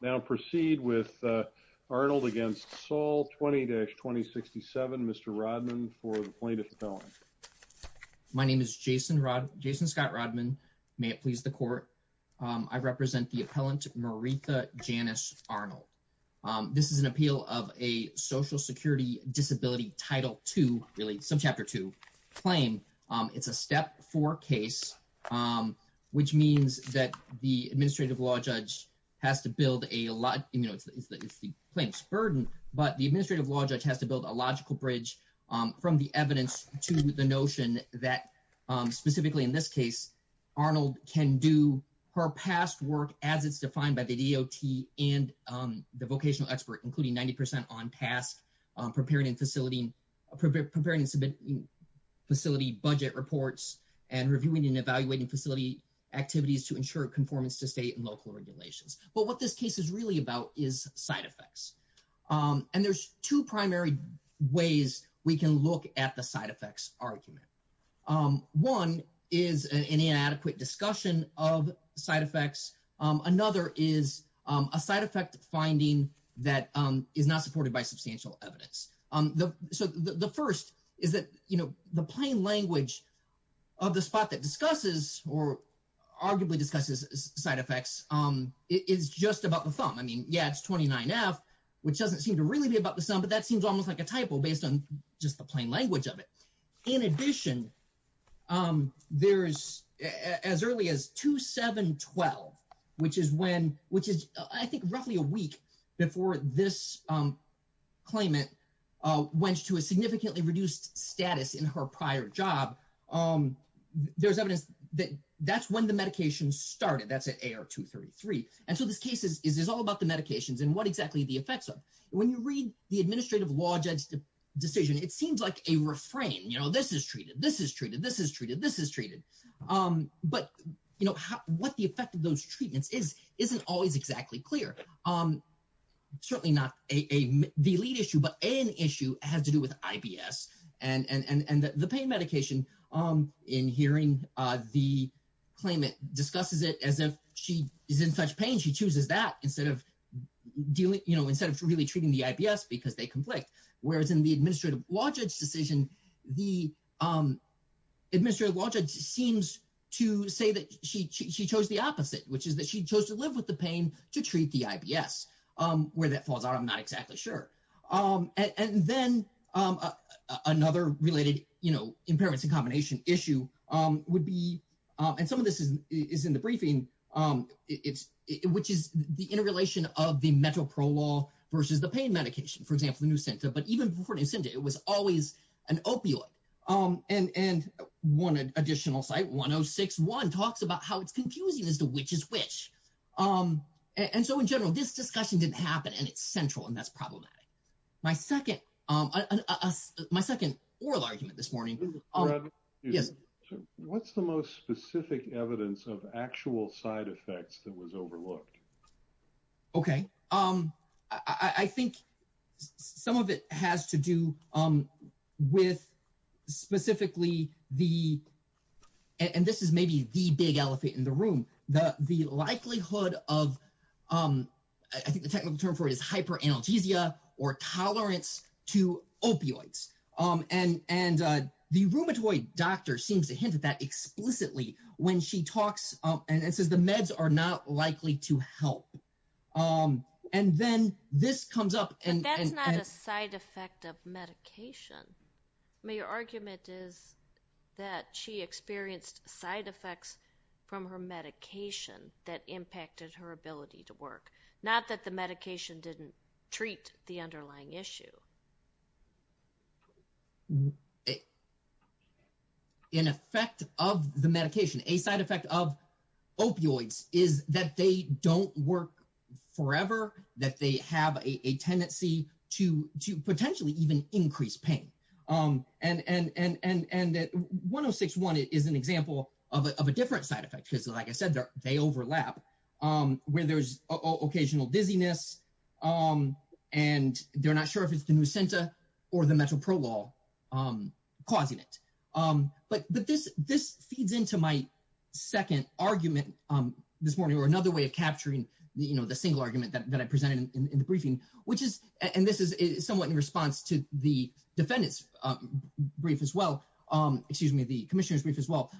Now proceed with Arnold against Saul 20-2067, Mr. Rodman for the plaintiff's appellant. My name is Jason Scott Rodman. May it please the court. I represent the appellant Maretha Janice Arnold. This is an appeal of a Social Security Disability Title II, really Subchapter II, claim. It's a Step 4 case, which means that the administrative law judge has to build a lot, you know, it's the plaintiff's burden, but the administrative law judge has to build a logical bridge from the evidence to the notion that, specifically in this case, Arnold can do her past work as it's defined by the DOT and the vocational expert, including 90% on past preparing and submitting facility budget reports and reviewing and evaluating facility activities to ensure conformance to state and local regulations. But what this case is really about is side effects. And there's two primary ways we can look at the side effects argument. One is an inadequate discussion of side effects. Another is a side effect finding that is not supported by substantial evidence. So the first is that, you know, the plain language of the spot that discusses or arguably discusses side effects is just about the thumb. I mean, yeah, it's 29F, which doesn't seem to really be about the thumb, but that seems almost like a typo based on just the plain language of it. In addition, there's as early as 2-7-12, which is when, which is, I think, roughly a week before this claimant went to a significantly reduced status in her prior job. There's evidence that that's when the medication started, that's at AR-233. And so this case is all about the medications and what exactly the effects are. When you read the administrative law judge decision, it seems like a refrain, you know, this is treated, this is treated, this is treated, this is treated. But, you know, what the effect of those treatments is, isn't always exactly clear. Certainly not the lead issue, but an issue has to do with IBS and the pain medication in hearing the claimant discusses it as if she is in such pain, she chooses that instead of, you know, instead of really treating the IBS because they conflict. Whereas in the administrative law judge decision, the administrative law judge seems to say that she chose the opposite, which is that she chose to live with the pain to treat the IBS. Where that falls out, I'm not sure. And some of this is in the briefing, which is the interrelation of the mental parole law versus the pain medication, for example, the Nusenta. But even before Nusenta, it was always an opioid. And one additional site, 1061, talks about how it's confusing as to which is which. And so in general, this discussion didn't happen and it's central and that's problematic. My second, my second oral argument this morning. Yes. What's the most specific evidence of actual side effects that was overlooked? Okay. I think some of it has to do with specifically the, and this is maybe the big in the room, the, the likelihood of I think the technical term for it is hyper analgesia or tolerance to opioids. And, and the rheumatoid doctor seems to hint at that explicitly when she talks and it says the meds are not likely to help. And then this comes up. And that's not a side effect of medication. I mean, your argument is that she experienced side effects from her medication that impacted her ability to work, not that the medication didn't treat the underlying issue. In effect of the medication, a side effect of opioids is that they don't work forever, that they have a tendency to, to potentially even increase pain. And, and, and, and that 106.1 is an example of a, of a different side effect, because like I said, they overlap where there's occasional dizziness. And they're not sure if it's the nusenta or the metroprolol causing it. But, but this, this feeds into my second argument this morning or another way of presenting in the briefing, which is, and this is somewhat in response to the defendant's brief as well, excuse me, the commissioner's brief as well.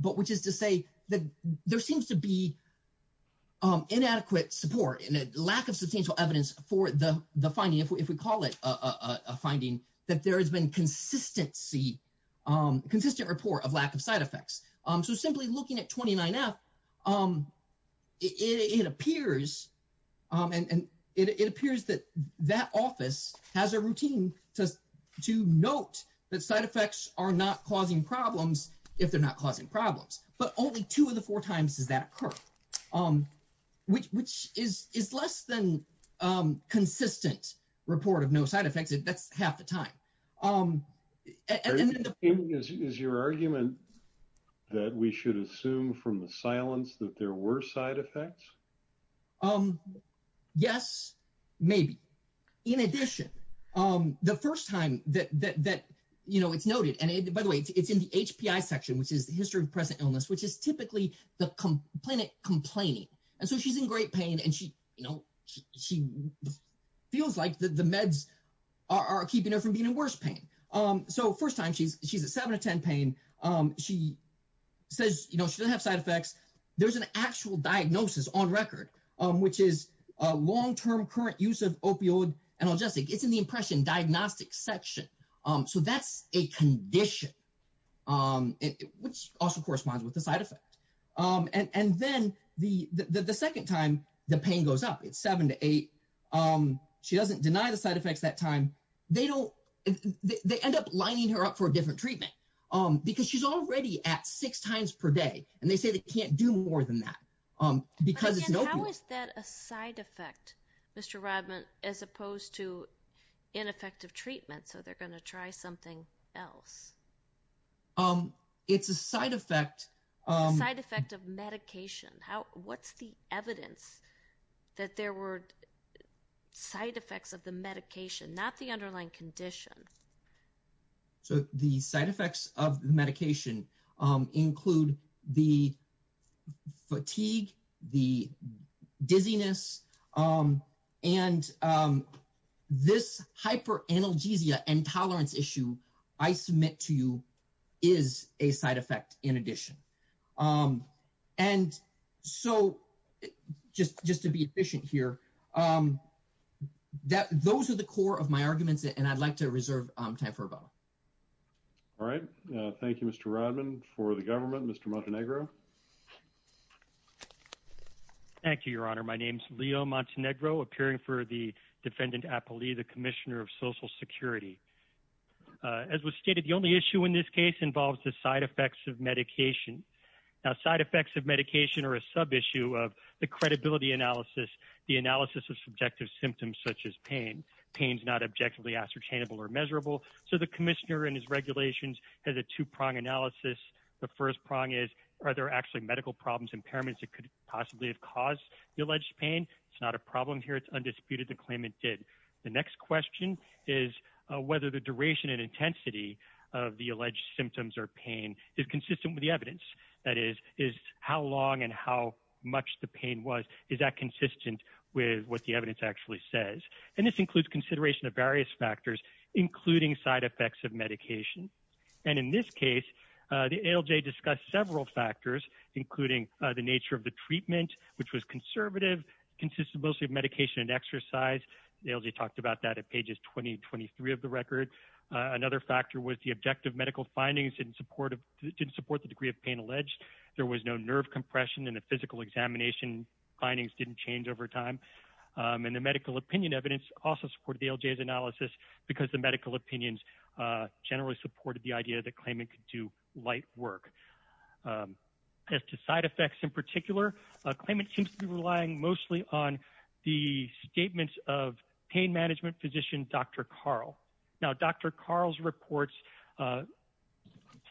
But which is to say that there seems to be inadequate support and a lack of substantial evidence for the, the finding, if we call it a finding, that there has been consistency, consistent report of lack of side effects. So simply looking at 29F, it, it appears, and it appears that that office has a routine to, to note that side effects are not causing problems if they're not causing problems. But only two of the four times does that occur, which, which is, is less than consistent report of no side effects. That's half the time. And then the- Is your argument that we should assume from the silence that there were side effects? Yes, maybe. In addition, the first time that, that, that, you know, it's noted and by the way, it's in the HPI section, which is the history of present illness, which is typically the complainant complaining. And so she's in great pain and she, you know, she feels like the meds are keeping her from being in worse pain. So first time she's, she's at seven to 10 pain. She says, you know, she doesn't have side effects. There's an actual diagnosis on record, which is a long-term current use of opioid analgesic. It's in the impression diagnostic section. So that's a condition, which also corresponds with the side effect. And then the, the, the second time the pain goes up, it's seven to eight. She doesn't deny the side effects that time. They don't, they end up lining her up for a different treatment because she's already at six times per day. And they say they can't do more than that because it's an opiate. And how is that a side effect, Mr. Rodman, as opposed to ineffective treatment? So they're going to try something else. It's a side effect. Side effect of medication. How, what's the evidence that there were side effects of the medication, not the underlying condition? So the side effects of the medication include the fatigue, the dizziness, and this hyper analgesia intolerance issue I submit to you is a side effect in addition. And so just, just to be efficient here that those are the core of my arguments and I'd like to reserve time for. All right. Thank you, Mr. Rodman for the government, Mr. Montenegro. Thank you, your honor. My name's Leo Montenegro appearing for the defendant, the commissioner of social security. As was stated, the only issue in this case involves the side effects of medication. Now side effects of medication are a sub-issue of the credibility analysis, the analysis of subjective symptoms, such as pain. Pain's not objectively ascertainable or measurable. So the commissioner and his regulations has a two prong analysis. The first prong is, are there actually medical problems, impairments that could possibly have caused the alleged pain? It's not a problem here. It's undisputed to claim it did. The next question is whether the duration and intensity of the alleged symptoms or pain is consistent with the evidence that is, is how long and how much the pain was, is that consistent with what the evidence actually says? And this includes consideration of various factors, including side effects of medication. And in this case, the ALJ discussed several factors, including the nature of the treatment, which was conservative, consisted mostly of medication and exercise. The ALJ talked about that at pages 20 and 23 of the record. Another factor was the objective medical findings didn't support, didn't support the degree of pain alleged. There was no nerve compression in the physical examination. Findings didn't change over time. And the medical opinion evidence also supported the ALJ's analysis because the medical opinions generally supported the idea that claimant could do light work. As to side effects in particular, claimant seems to be relying mostly on the statements of pain management physician, Dr. Carl. Now, Dr. Carl's reports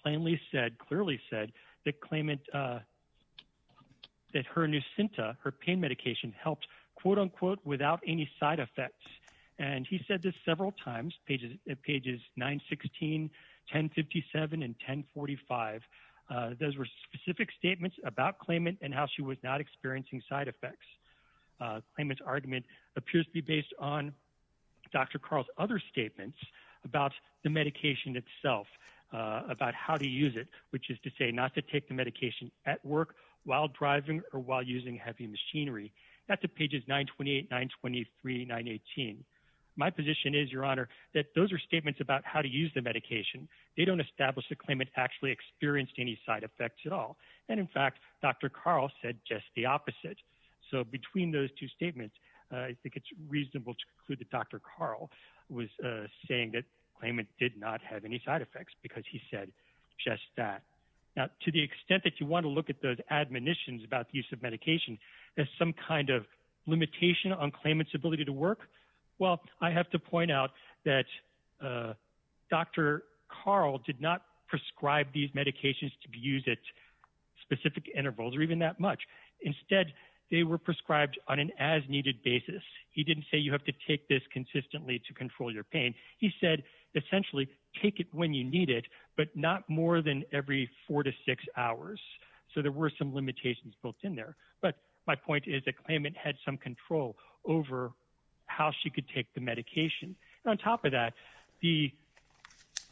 plainly said, clearly said that claimant, that her Nucinta, her pain medication helped, quote unquote, without any side effects. And he said this several times, pages 916, 1057, and 1045. Those were specific statements about claimant and how she was not experiencing side effects. Claimant's argument appears to be based on Dr. Carl's other statements about the medication itself, about how to use it, which is to say not to take the medication at work while driving or while using heavy machinery. That's at pages 928, 923, 918. My position is, Your Honor, that those are statements about how to use the medication. They don't establish the claimant actually experienced any side effects at all. And in fact, Dr. Carl said just the opposite. So between those two statements, I think it's reasonable to conclude that Dr. Carl was saying that claimant did not have any side effects because he said just that. Now, to the extent that you want to look at those admonitions about use of medication as some kind of limitation on claimant's ability to work, well, I have to point out that Dr. Carl did not prescribe these medications to be used at specific intervals or even that much. Instead, they were prescribed on an as-needed basis. He didn't say you have to take this consistently to control your pain. He said essentially take it when you need it, but not more than every four to six hours. So there were some limitations built in there. But my point is the claimant had some control over how she could take the medication. On top of that, the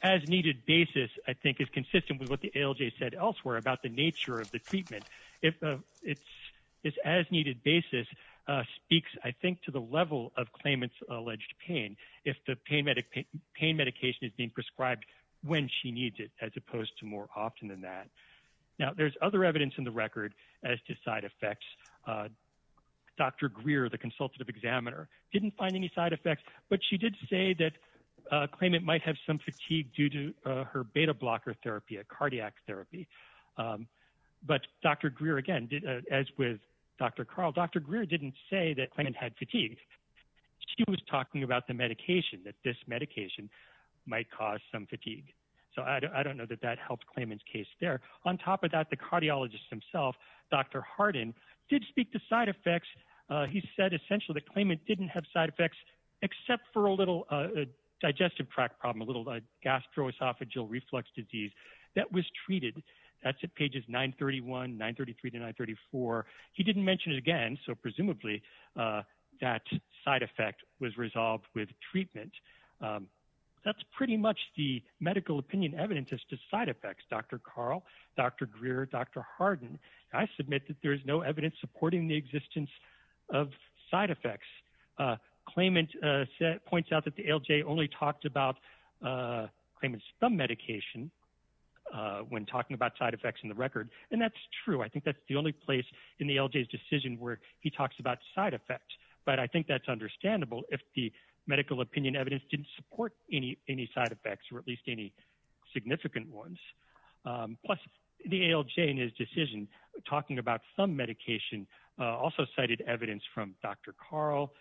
as-needed basis, I think, is consistent with what the ALJ said elsewhere about the nature of the treatment. If it's this as-needed basis speaks, I think, to the level of claimant's prescribed when she needs it as opposed to more often than that. Now, there's other evidence in the record as to side effects. Dr. Greer, the consultative examiner, didn't find any side effects, but she did say that claimant might have some fatigue due to her beta blocker therapy, a cardiac therapy. But Dr. Greer, again, as with Dr. Carl, Dr. Greer didn't say that claimant had some fatigue. So I don't know that that helped claimant's case there. On top of that, the cardiologist himself, Dr. Hardin, did speak to side effects. He said essentially the claimant didn't have side effects except for a little digestive tract problem, a little gastroesophageal reflux disease that was treated. That's at pages 931, 933 to 934. He didn't mention it again, so presumably that side effect was resolved with treatment. That's pretty much the medical opinion evidence as to side effects, Dr. Carl, Dr. Greer, Dr. Hardin. I submit that there is no evidence supporting the existence of side effects. Claimant points out that the ALJ only talked about claimant's thumb medication when talking about side effects in the record, and that's true. I think that's the only place in the ALJ's decision where he talks about side effects, but I think that's understandable if the medical opinion evidence didn't support any side effects or at least any significant ones. Plus, the ALJ in his decision talking about thumb medication also cited evidence from Dr. Carl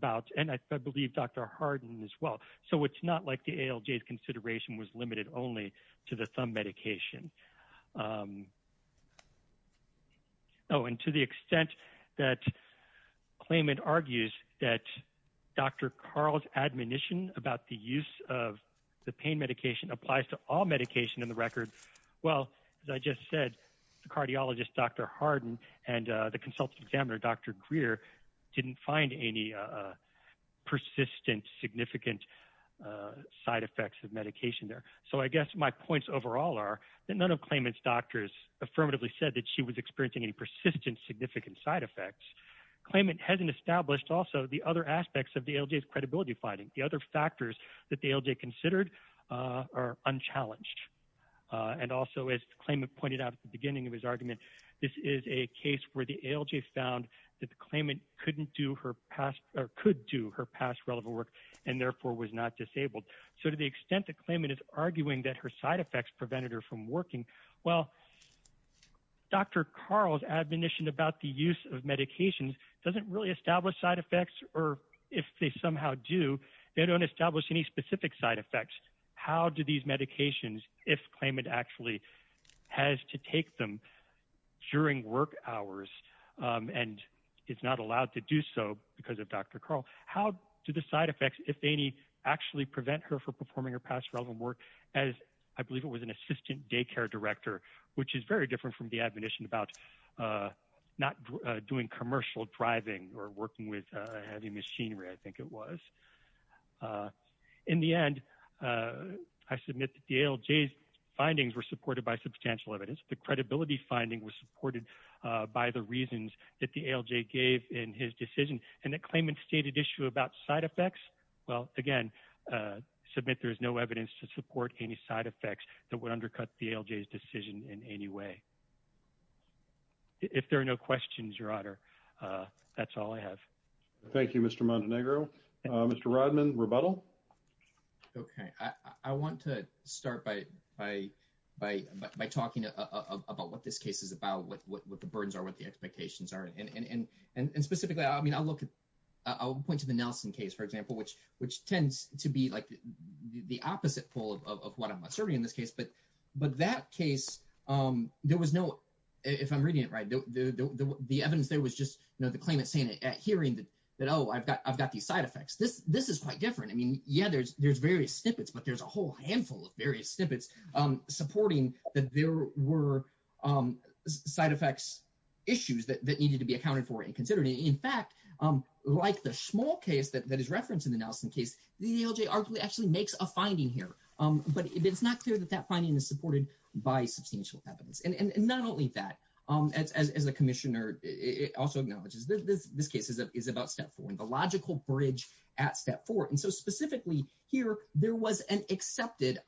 about, and I believe Dr. Hardin as well. So it's like the ALJ's consideration was limited only to the thumb medication. Oh, and to the extent that claimant argues that Dr. Carl's admonition about the use of the pain medication applies to all medication in the record, well, as I just said, the cardiologist, Dr. Hardin, and the consultant examiner, Dr. Greer, didn't find any persistent significant side effects of medication there. So I guess my points overall are that none of claimant's doctors affirmatively said that she was experiencing any persistent significant side effects. Claimant hasn't established also the other aspects of the ALJ's credibility finding, the other factors that the ALJ considered are unchallenged. And also, as claimant pointed out at the beginning of his argument, this is a case where the ALJ found that the claimant couldn't do her past, or could do her past relevant work, and therefore was not disabled. So to the extent that claimant is arguing that her side effects prevented her from working, well, Dr. Carl's admonition about the use of medications doesn't really establish side effects, or if they somehow do, they don't establish any specific side effects. How do these medications, if claimant actually has to take them during work hours, and is not allowed to do so because of Dr. Carl, how do the side effects, if any, actually prevent her from performing her past relevant work, as I believe it was an assistant daycare director, which is very different from the admonition about not doing commercial driving, or working with heavy machinery, I think it was. In the end, I submit that the ALJ's findings were supported by substantial evidence. The credibility finding was supported by the reasons that the ALJ gave in his decision, and that claimant's stated issue about side effects, well, again, submit there is no evidence to support any side effects that would undercut the ALJ's decision in any way. If there are no questions, Your Honor, that's all I have. Thank you, Mr. Montenegro. Mr. Rodman, rebuttal? Okay. I want to start by talking about what this case is about, what the burdens are, what the expectations are, and specifically, I'll point to the Nelson case, for example, which tends to be the opposite pole of what I'm asserting in this case. But that case, there was no, if I'm reading it right, the evidence there was just the claimant saying at hearing that, oh, I've got these side effects. This is quite different. I mean, yeah, there's various snippets, but there's a whole handful of various snippets supporting that there were side effects issues that needed to be accounted for and considered. In fact, like the small case that is referenced in the Nelson case, the ALJ arguably actually makes a finding here, but it's not clear that that finding is supported by substantial evidence. And not only that, as the Commissioner also acknowledges, this case is about step four, and the logical bridge at step four. And so specifically here, there was an accepted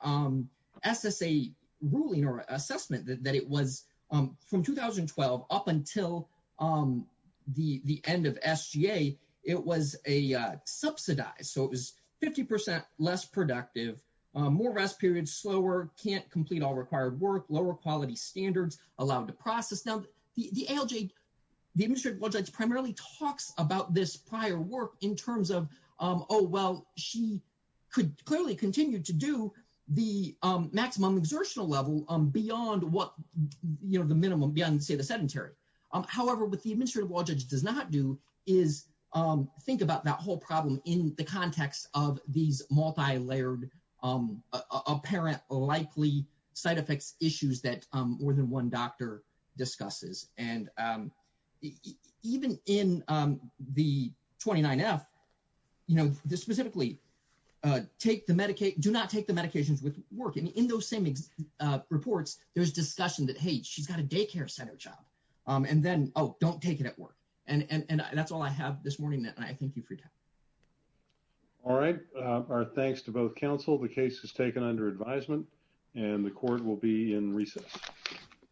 SSA ruling or assessment that it was from 2012 up until the end of SGA, it was a subsidized, so it was 50% less productive, more rest periods, slower, can't complete all required work, lower quality standards allowed to process. Now, the ALJ, the Administrative Judge primarily talks about this prior work in terms of, oh, well, she could clearly continue to do the maximum exertional level beyond what, you know, the minimum, beyond, say, the sedentary. However, what the Administrative Law Judge does not do is think about that whole problem in the context of these multi-layered apparent likely side effects issues that more than one doctor discusses. And even in the 29F, you know, this specifically, do not take the medications with work. And in those same reports, there's discussion that, hey, she's got a daycare center job. And then, oh, don't take it at work. And that's all I have this morning, and I thank you for your time. All right. Our thanks to both counsel. The case is taken under advisement, and the court will be in recess.